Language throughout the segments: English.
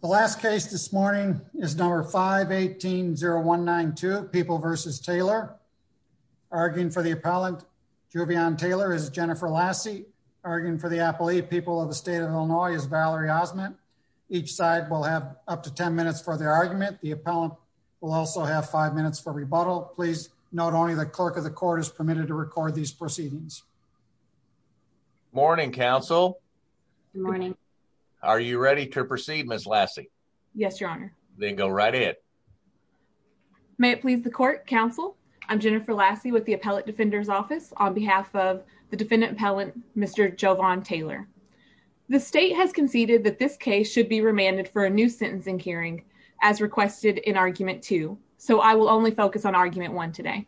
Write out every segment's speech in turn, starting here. The last case this morning is number 518-0192, People v. Taylor. Arguing for the appellant, Jovian Taylor, is Jennifer Lassie. Arguing for the appellee, People of the State of Illinois, is Valerie Osment. Each side will have up to 10 minutes for their argument. The appellant will also have 5 minutes for rebuttal. Please note only the clerk of the court is permitted to record these proceedings. Morning, counsel. Good morning. Are you ready to proceed, Ms. Lassie? Yes, your honor. Then go right ahead. May it please the court, counsel. I'm Jennifer Lassie with the Appellate Defender's Office on behalf of the defendant appellant, Mr. Jovian Taylor. The state has conceded that this case should be remanded for a new sentencing hearing as requested in argument 2, so I will only focus on argument 1 today.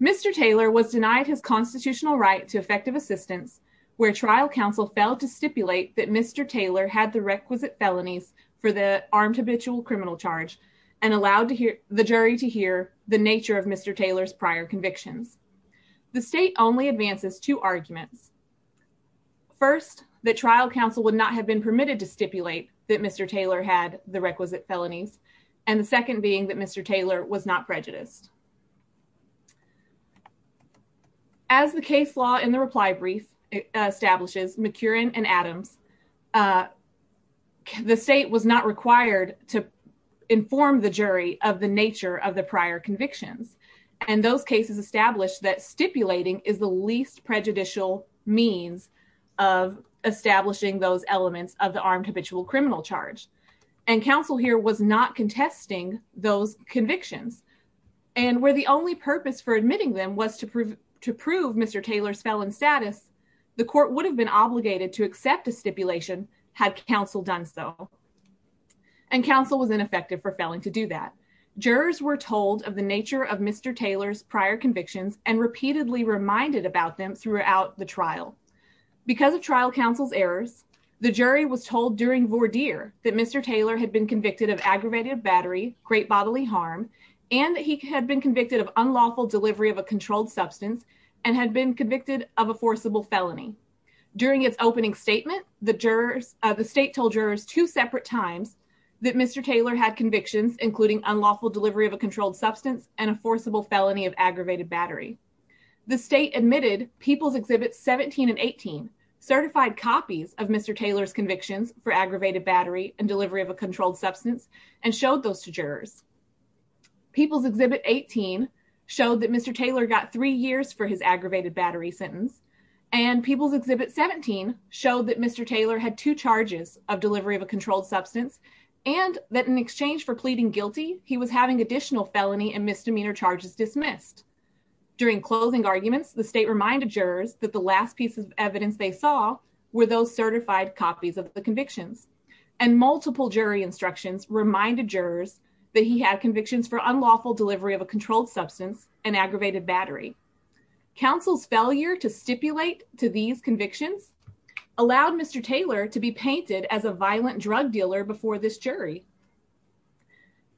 Mr. Taylor was denied his constitutional right to effective assistance where trial counsel failed to stipulate that Mr. Taylor had the requisite felonies for the armed habitual criminal charge and allowed the jury to hear the nature of Mr. Taylor's prior convictions. The state only advances two arguments. First, that trial counsel would not have been permitted to stipulate that Mr. Taylor had the requisite felonies, and the second being that Mr. Taylor was not prejudiced. As the case law in the reply brief establishes, McCurin and Adams, the state was not required to inform the jury of the nature of the prior convictions, and those cases established that stipulating is the least prejudicial means of establishing those convictions, and where the only purpose for admitting them was to prove to prove Mr. Taylor's felon status, the court would have been obligated to accept a stipulation had counsel done so, and counsel was ineffective for failing to do that. Jurors were told of the nature of Mr. Taylor's prior convictions and repeatedly reminded about them throughout the trial. Because of trial counsel's errors, the jury was told during voir dire that Mr. Taylor had been convicted of aggravated battery, great bodily harm, and that he had been convicted of unlawful delivery of a controlled substance and had been convicted of a forcible felony. During its opening statement, the state told jurors two separate times that Mr. Taylor had convictions including unlawful delivery of a controlled substance and a forcible felony of aggravated battery. The state admitted People's Exhibits 17 and 18 certified copies of Mr. Taylor's convictions for aggravated battery and delivery of controlled substance and showed those to jurors. People's Exhibit 18 showed that Mr. Taylor got three years for his aggravated battery sentence, and People's Exhibit 17 showed that Mr. Taylor had two charges of delivery of a controlled substance and that in exchange for pleading guilty, he was having additional felony and misdemeanor charges dismissed. During closing arguments, the state reminded jurors that the last piece of evidence they saw were those certified copies of the convictions, and multiple jury instructions reminded jurors that he had convictions for unlawful delivery of a controlled substance and aggravated battery. Council's failure to stipulate to these convictions allowed Mr. Taylor to be painted as a violent drug dealer before this jury,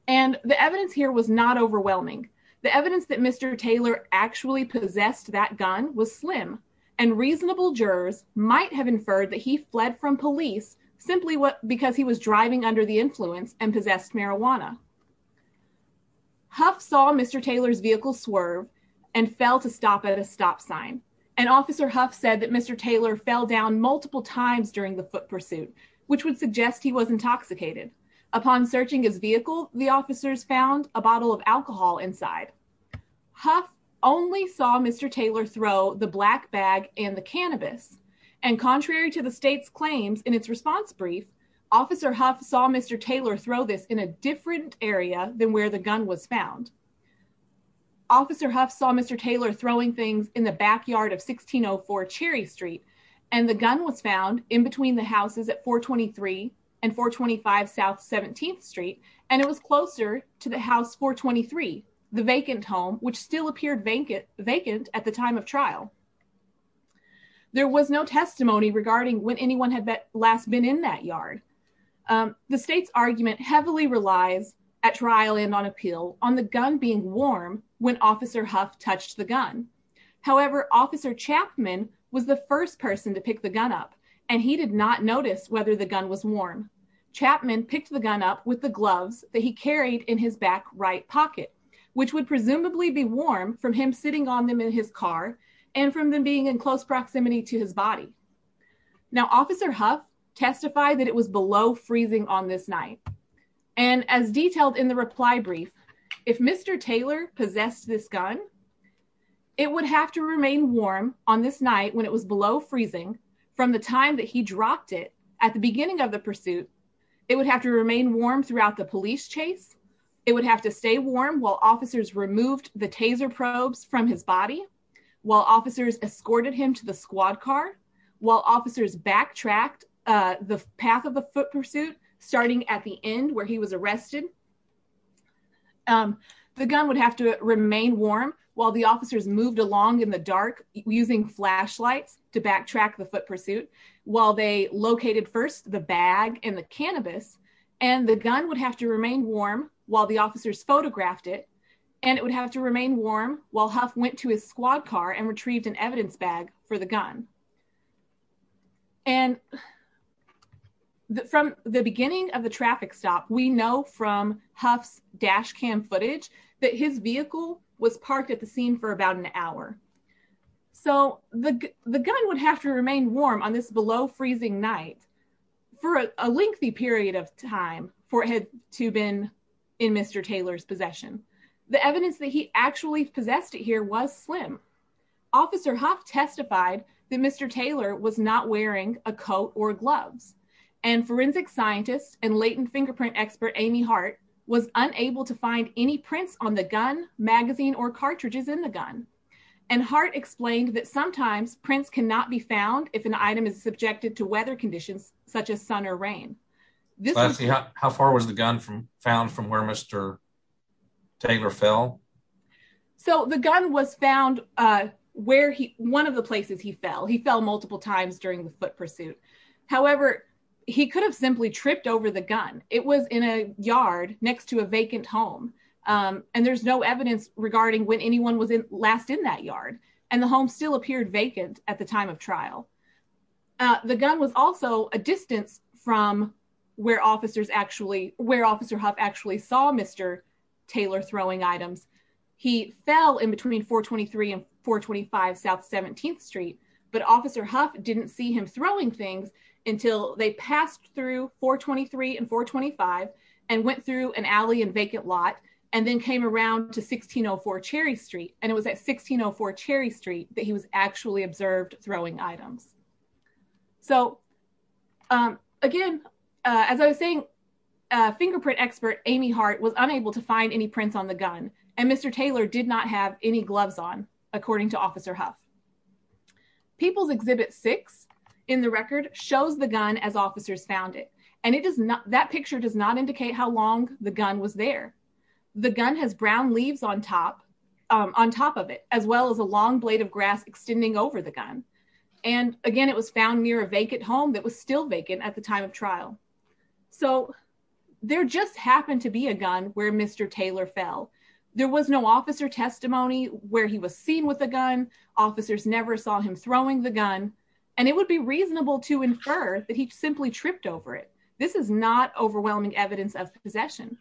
and the evidence here was not overwhelming. The evidence that Mr. Taylor actually possessed that gun was slim, and reasonable jurors might have inferred that he fled from police simply because he was driving under the influence and possessed marijuana. Huff saw Mr. Taylor's vehicle swerve and fell to stop at a stop sign, and Officer Huff said that Mr. Taylor fell down multiple times during the foot pursuit, which would suggest he was intoxicated. Upon searching his vehicle, the officers found a bottle of alcohol inside. Huff only saw Mr. Taylor throw the black bag and the cannabis, and contrary to the state's claims in its response brief, Officer Huff saw Mr. Taylor throw this in a different area than where the gun was found. Officer Huff saw Mr. Taylor throwing things in the backyard of 1604 Cherry Street, and the gun was found in between the houses at 423 and 425 South 17th Street, and it was closer to the house 423, the vacant home which still appeared vacant at the time of trial. There was no testimony regarding when anyone had last been in that yard. The state's argument heavily relies, at trial and on appeal, on the gun being warm when Officer Huff touched the gun. However, Officer Chapman was the first person to pick the gun up, and he did not notice whether the gun was warm. Chapman picked the gun up with the gloves that he carried in his back right pocket, which would presumably be warm from him sitting on them in his car and from them being in close proximity to his body. Now, Officer Huff testified that it was below freezing on this night, and as detailed in the reply brief, if Mr. Taylor possessed this gun, it would have to remain warm on this night when it was below freezing from the time that he dropped it at the beginning of the pursuit. It would have to remain warm throughout the police chase. It would have to stay warm while officers removed the taser probes from his body, while officers escorted him to the squad car, while officers backtracked the path of the foot pursuit starting at the end where he was arrested. The gun would have to remain warm while the officers moved along in the dark using flashlights to backtrack the foot pursuit, while they located first the bag and the cannabis, and the gun would have to remain warm while the officers photographed it, and it would have to remain warm while Huff went to his squad car and retrieved an evidence bag for the gun. And from the beginning of the Huff's dash cam footage, that his vehicle was parked at the scene for about an hour. So, the gun would have to remain warm on this below freezing night for a lengthy period of time for it to have been in Mr. Taylor's possession. The evidence that he actually possessed it here was slim. Officer Huff testified that Mr. Taylor was not wearing a coat or gloves, and forensic scientist and latent fingerprint expert Amy Hart was unable to find any prints on the gun, magazine, or cartridges in the gun. And Hart explained that sometimes prints cannot be found if an item is subjected to weather conditions such as sun or rain. How far was the gun from found from where Mr. Taylor fell? So, the gun was found where he one of the places he fell. He fell multiple times during the foot he could have simply tripped over the gun. It was in a yard next to a vacant home. And there's no evidence regarding when anyone was last in that yard. And the home still appeared vacant at the time of trial. The gun was also a distance from where officers actually, where Officer Huff actually saw Mr. Taylor throwing items. He fell in between 423 and 425 South 17th Street. But Officer Huff didn't see him throwing things until they passed through 423 and 425 and went through an alley and vacant lot and then came around to 1604 Cherry Street. And it was at 1604 Cherry Street that he was actually observed throwing items. So, again, as I was saying, fingerprint expert Amy Hart was unable to find any prints on the gun. And Mr. Taylor did not have any gloves on, according to Officer Huff. People's Exhibit 6 in the record shows the gun as officers found it. And it does not, that picture does not indicate how long the gun was there. The gun has brown leaves on top, on top of it, as well as a long blade of grass extending over the gun. And again, it was found near a vacant home that was still vacant at the time of trial. So, there just happened to be a gun where Mr. Taylor fell. There was no officer testimony where he was seen with a gun. Officers never saw him throwing the gun. And it would be reasonable to infer that he simply tripped over it. This is not overwhelming evidence of possession.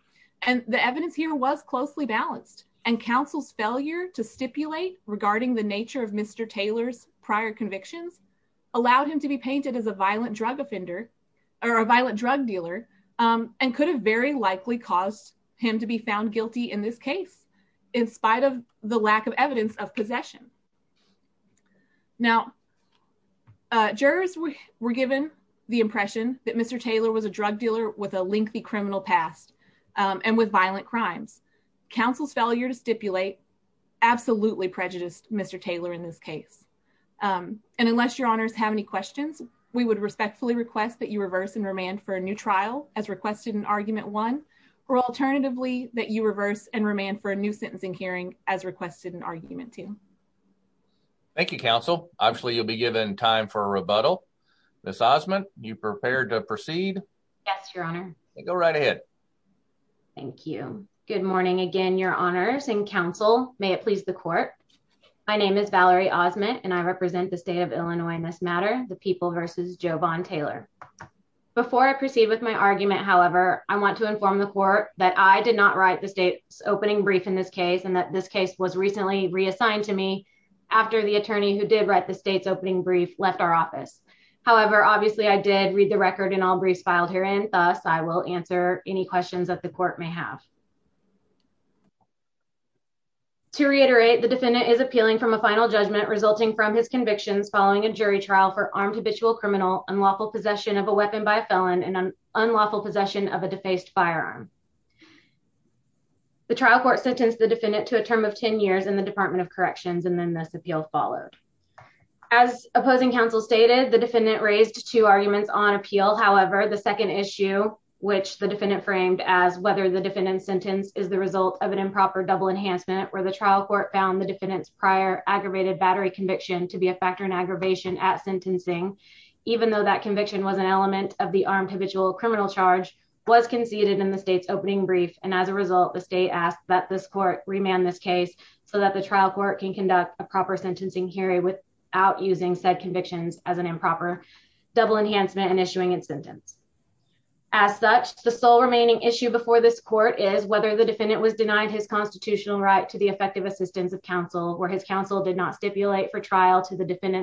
And the evidence here was closely balanced. And counsel's failure to stipulate regarding the nature of Mr. Taylor's prior convictions allowed him to be painted as a violent drug offender, or a violent drug dealer, and could have very likely caused him to be found guilty in this case, in spite of the lack of evidence of possession. Now, jurors were given the impression that Mr. Taylor was a drug dealer with a lengthy criminal past and with violent crimes. Counsel's failure to stipulate absolutely prejudiced Mr. Taylor in this case. And unless your honors have any that you reverse and remand for a new trial as requested in argument one, or alternatively, that you reverse and remand for a new sentencing hearing as requested in argument two. Thank you, counsel. Obviously, you'll be given time for a rebuttal. Ms. Osmond, you prepared to proceed? Yes, your honor. Go right ahead. Thank you. Good morning again, your honors and counsel. May it please the court. My name is Jovon Taylor. Before I proceed with my argument, however, I want to inform the court that I did not write the state's opening brief in this case, and that this case was recently reassigned to me after the attorney who did write the state's opening brief left our office. However, obviously, I did read the record and all briefs filed herein. Thus, I will answer any questions that the court may have. To reiterate, the defendant is appealing from a final judgment resulting from his convictions following a jury trial for armed habitual criminal, unlawful possession of a weapon by a felon, and unlawful possession of a defaced firearm. The trial court sentenced the defendant to a term of 10 years in the Department of Corrections, and then this appeal followed. As opposing counsel stated, the defendant raised two arguments on appeal. However, the second issue, which the defendant framed as whether the defendant's sentence is the result of an improper double enhancement, where the trial court found the defendant's prior aggravated battery conviction to be a factor in aggravation at sentencing, even though that conviction was an element of the armed habitual criminal charge, was conceded in the state's opening brief, and as a result, the state asked that this court remand this case so that the trial court can conduct a proper sentencing hearing without using said convictions as an improper double enhancement and issuing its sentence. As such, the sole remaining issue before this court is whether the defendant was denied his defendant's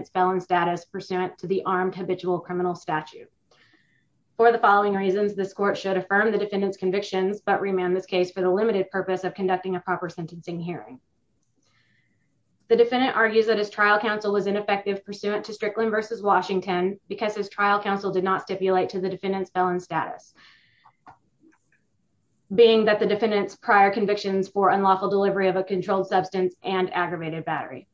felon status pursuant to the armed habitual criminal statute. For the following reasons, this court should affirm the defendant's convictions, but remand this case for the limited purpose of conducting a proper sentencing hearing. The defendant argues that his trial counsel was ineffective pursuant to Strickland versus Washington because his trial counsel did not stipulate to the defendant's felon status, being that the defendant's prior convictions for unlawful delivery of a controlled substance and aggravated battery.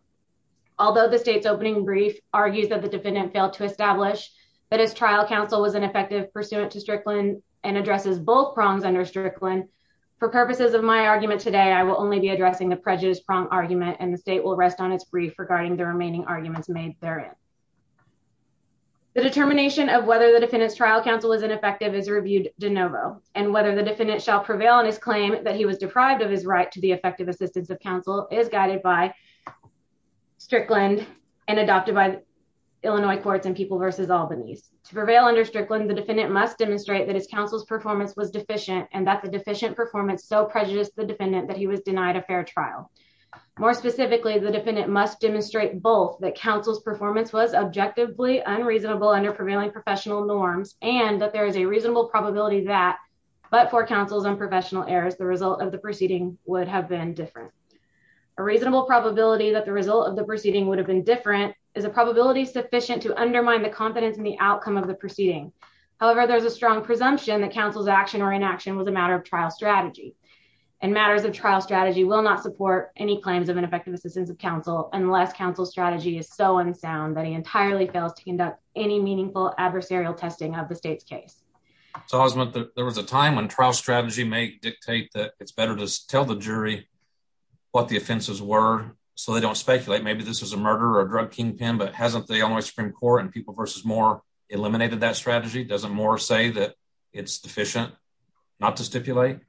Although the state's opening brief argues that the defendant failed to establish that his trial counsel was ineffective pursuant to Strickland and addresses both prongs under Strickland, for purposes of my argument today, I will only be addressing the prejudice prong argument, and the state will rest on its brief regarding the remaining arguments made therein. The determination of whether the defendant's trial counsel is ineffective is reviewed de novo, and whether the defendant shall prevail on his claim that he was deprived of his effective assistance of counsel is guided by Strickland and adopted by Illinois Courts and People versus Albanese. To prevail under Strickland, the defendant must demonstrate that his counsel's performance was deficient and that the deficient performance so prejudiced the defendant that he was denied a fair trial. More specifically, the defendant must demonstrate both that counsel's performance was objectively unreasonable under prevailing professional norms and that there is a reasonable probability that, but for counsel's unprofessional errors, the result of the proceeding would have been different. A reasonable probability that the result of the proceeding would have been different is a probability sufficient to undermine the confidence in the outcome of the proceeding. However, there's a strong presumption that counsel's action or inaction was a matter of trial strategy, and matters of trial strategy will not support any claims of ineffective assistance of counsel unless counsel's strategy is so unsound that he entirely fails to conduct any meaningful adversarial testing of the state's So there was a time when trial strategy may dictate that it's better to tell the jury what the offenses were so they don't speculate. Maybe this is a murder or drug kingpin, but hasn't the Illinois Supreme Court and People versus Moore eliminated that strategy? Doesn't Moore say that it's deficient not to stipulate?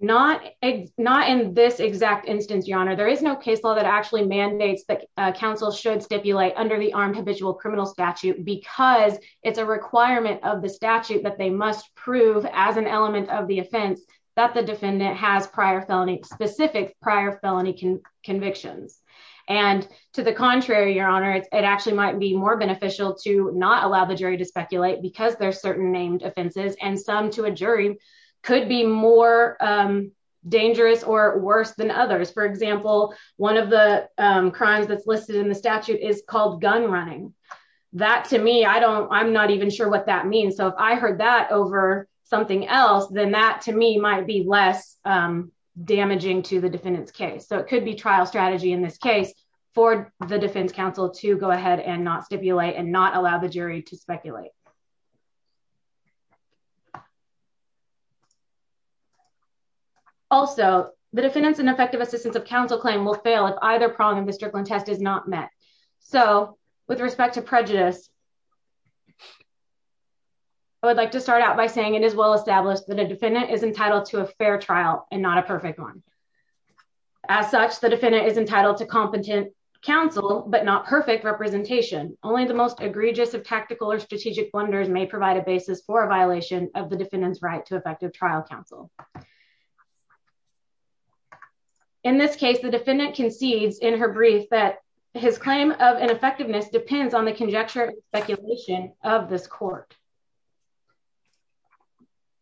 Not in this exact instance, Your Honor. There is no case law that actually mandates that counsel should stipulate under the armed habitual criminal statute because it's a requirement of the statute that they must prove as an element of the offense that the defendant has prior felony, specific prior felony convictions. And to the contrary, Your Honor, it actually might be more beneficial to not allow the jury to speculate because there's certain named offenses and some to a jury could be more dangerous or worse than others. For example, one of the crimes that's listed in the statute is called gun running. That to me, I don't, I'm not even sure what that means. So if I heard that over something else, then that to me might be less damaging to the defendant's case. So it could be trial strategy in this case for the defense counsel to go ahead and not stipulate and not allow the jury to speculate. Also, the defendants and effective assistance of counsel claim will fail if either prong in the Strickland test is not met. So with respect to prejudice, I would like to start out by saying it is well established that a defendant is entitled to a fair trial and not a perfect one. As such, the defendant is entitled to competent counsel, but not perfect representation. Only the most egregious of tactical or strategic blunders may provide a basis for a violation of the defendant's right to effective trial counsel. In this case, the defendant concedes in her brief that his claim of ineffectiveness depends on the conjecture and speculation of this court.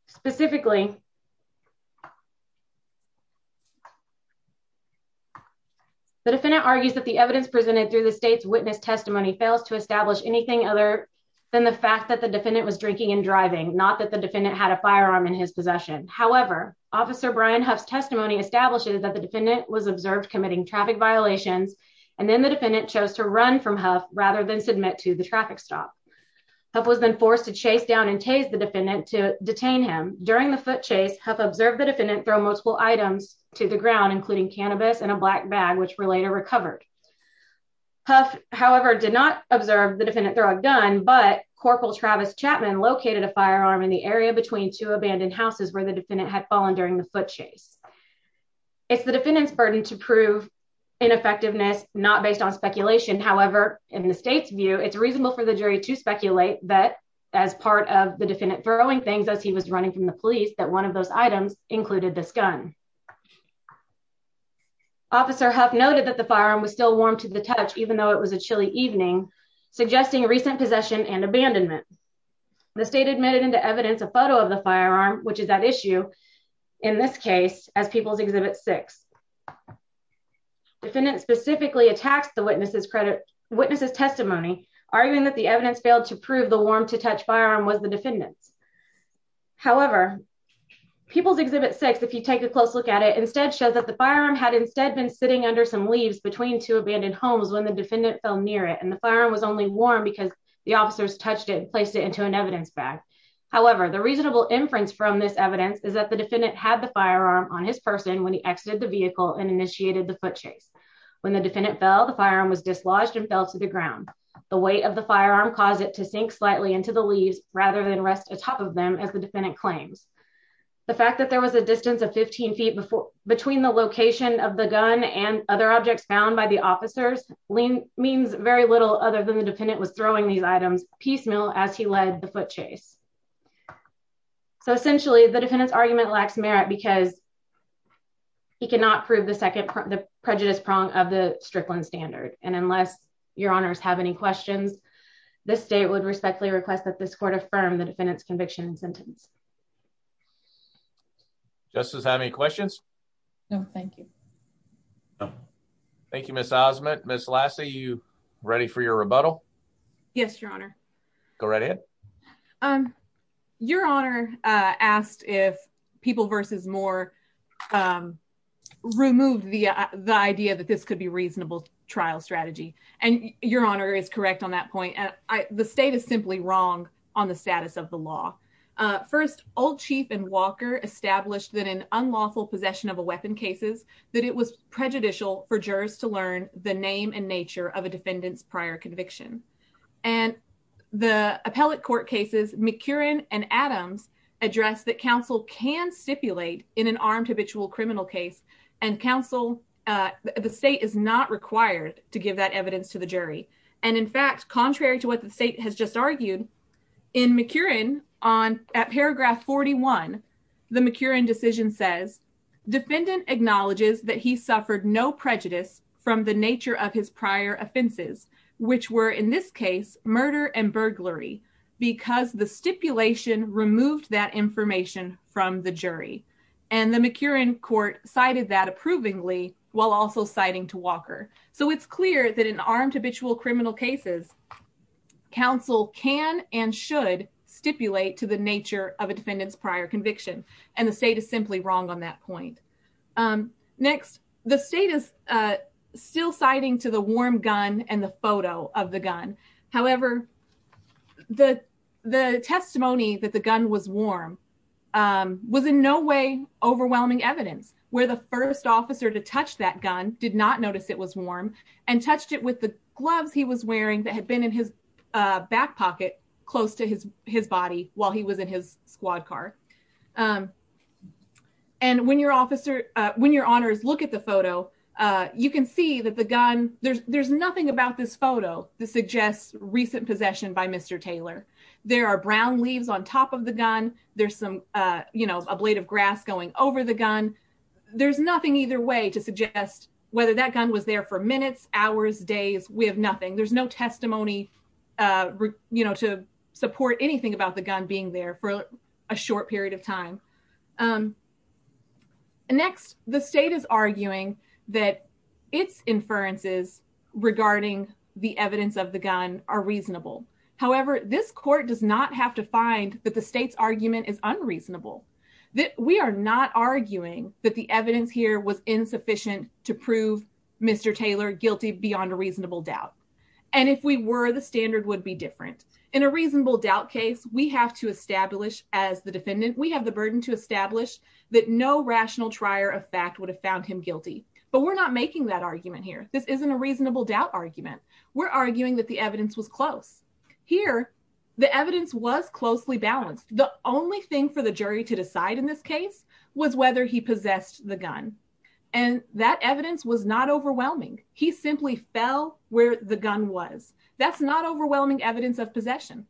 Specifically, the defendant argues that the evidence presented through the state's witness testimony fails to and driving, not that the defendant had a firearm in his possession. However, Officer Brian Huff's testimony establishes that the defendant was observed committing traffic violations, and then the defendant chose to run from Huff rather than submit to the traffic stop. Huff was then forced to chase down and tase the defendant to detain him. During the foot chase, Huff observed the defendant throw multiple items to the ground, including cannabis and a black bag, which were later recovered. Huff, however, did not observe the defendant throw a gun, but Travis Chapman located a firearm in the area between two abandoned houses where the defendant had fallen during the foot chase. It's the defendant's burden to prove ineffectiveness, not based on speculation. However, in the state's view, it's reasonable for the jury to speculate that as part of the defendant throwing things as he was running from the police, that one of those items included this gun. Officer Huff noted that the firearm was still warm to the touch, though it was a chilly evening, suggesting recent possession and abandonment. The state admitted into evidence a photo of the firearm, which is at issue in this case as People's Exhibit 6. The defendant specifically attacks the witness's testimony, arguing that the evidence failed to prove the warm-to-touch firearm was the defendant's. However, People's Exhibit 6, if you take a close look at it, instead shows that the firearm had instead been sitting under some leaves between two abandoned homes when the defendant fell near it, and the firearm was only warm because the officers touched it and placed it into an evidence bag. However, the reasonable inference from this evidence is that the defendant had the firearm on his person when he exited the vehicle and initiated the foot chase. When the defendant fell, the firearm was dislodged and fell to the ground. The weight of the firearm caused it to sink slightly into the leaves rather than rest atop of them, as the defendant claims. The fact that there was a distance of 15 feet between the location of the gun and other objects found by the officers means very little other than the defendant was throwing these items piecemeal as he led the foot chase. So essentially, the defendant's argument lacks merit because he cannot prove the second prejudice prong of the Strickland standard, and unless your honors have any questions, the state would respectfully request that this court affirm the defendant's Thank you, Ms. Osment. Ms. Lassa, are you ready for your rebuttal? Yes, your honor. Go right ahead. Your honor asked if people versus Moore removed the idea that this could be a reasonable trial strategy, and your honor is correct on that point. The state is simply wrong on the status of the law. First, Old Chief and Walker established that in unlawful possession of a weapon cases, that it was prejudicial for jurors to learn the name and nature of a defendant's prior conviction, and the appellate court cases, McCurin and Adams addressed that counsel can stipulate in an armed habitual criminal case, and counsel, the state is not required to give that evidence to the jury, and in fact, contrary to what the state has just argued, in McCurin, at paragraph 41, the McCurin decision says, defendant acknowledges that he suffered no prejudice from the nature of his prior offenses, which were in this case, murder and burglary, because the stipulation removed that information from the jury, and the McCurin court cited that approvingly while also citing to Walker, so it's clear that in armed habitual criminal cases, counsel can and should stipulate to the nature of a defendant's prior conviction, and the state is simply wrong on that point. Next, the state is still citing to the warm gun and the photo of the gun, however, the testimony that the gun was warm was in no way overwhelming evidence, where the first officer to touch that gun did not notice it was warm, and touched it with the gloves he was wearing that had been in his back pocket close to his body while he was in his squad car, and when your officer, when your honors look at the photo, you can see that the gun, there's nothing about this photo that suggests recent possession by Mr. Taylor, there are brown leaves on top of the gun, there's some, you know, a blade of grass going over the gun, there's nothing either way to suggest whether that gun was there for minutes, hours, days, we have nothing, there's no testimony, you know, to support anything about the gun being there for a short period of time. Next, the state is arguing that its inferences regarding the evidence of the gun are reasonable, however, this court does not have to find that the state's argument is unreasonable, that we are not arguing that the evidence here was insufficient to prove Mr. Taylor guilty beyond a reasonable doubt, and if we were, the standard would be different. In a reasonable doubt case, we have to establish as the defendant, we have the burden to establish that no rational trier of fact would have found him guilty, but we're not making that argument here, this isn't a reasonable doubt argument, we're arguing that the evidence was close. Here, the evidence was closely balanced, the only thing for the jury to decide in this case was whether he possessed the gun, and that evidence was not overwhelming, he simply fell where the gun was, that's not overwhelming evidence of possession.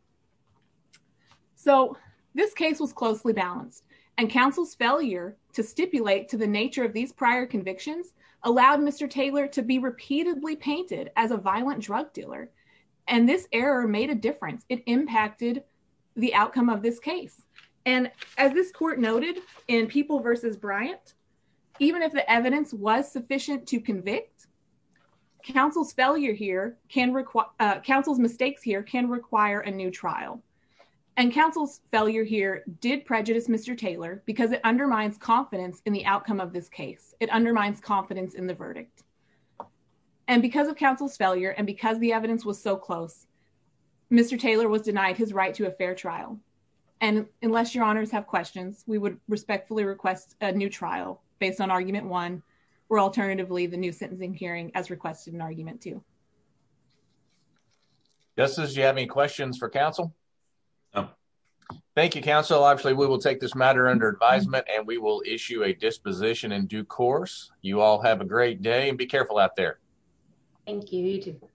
So, this case was closely balanced, and counsel's failure to stipulate to the nature of these prior convictions allowed Mr. Taylor to be repeatedly painted as a violent drug dealer, and this error made a difference, it impacted the outcome of this case, and as this court noted in People v. Bryant, even if the evidence was sufficient to convict, counsel's mistakes here can require a new trial, and counsel's failure here did prejudice Mr. Taylor because it undermines confidence in the outcome of this case, it undermines confidence in the verdict, and because of counsel's failure, and because the evidence was so close, Mr. Taylor was denied his right to a fair trial, and unless your honors have questions, we would respectfully request a new trial based on argument one, or alternatively the new sentencing hearing as requested in argument two. Justice, do you have any questions for counsel? No. Thank you, counsel, obviously we will take this matter under advisement, and we will issue a disposition in the future. Thank you, counsel, have a great day, and be careful out there. Thank you, you too.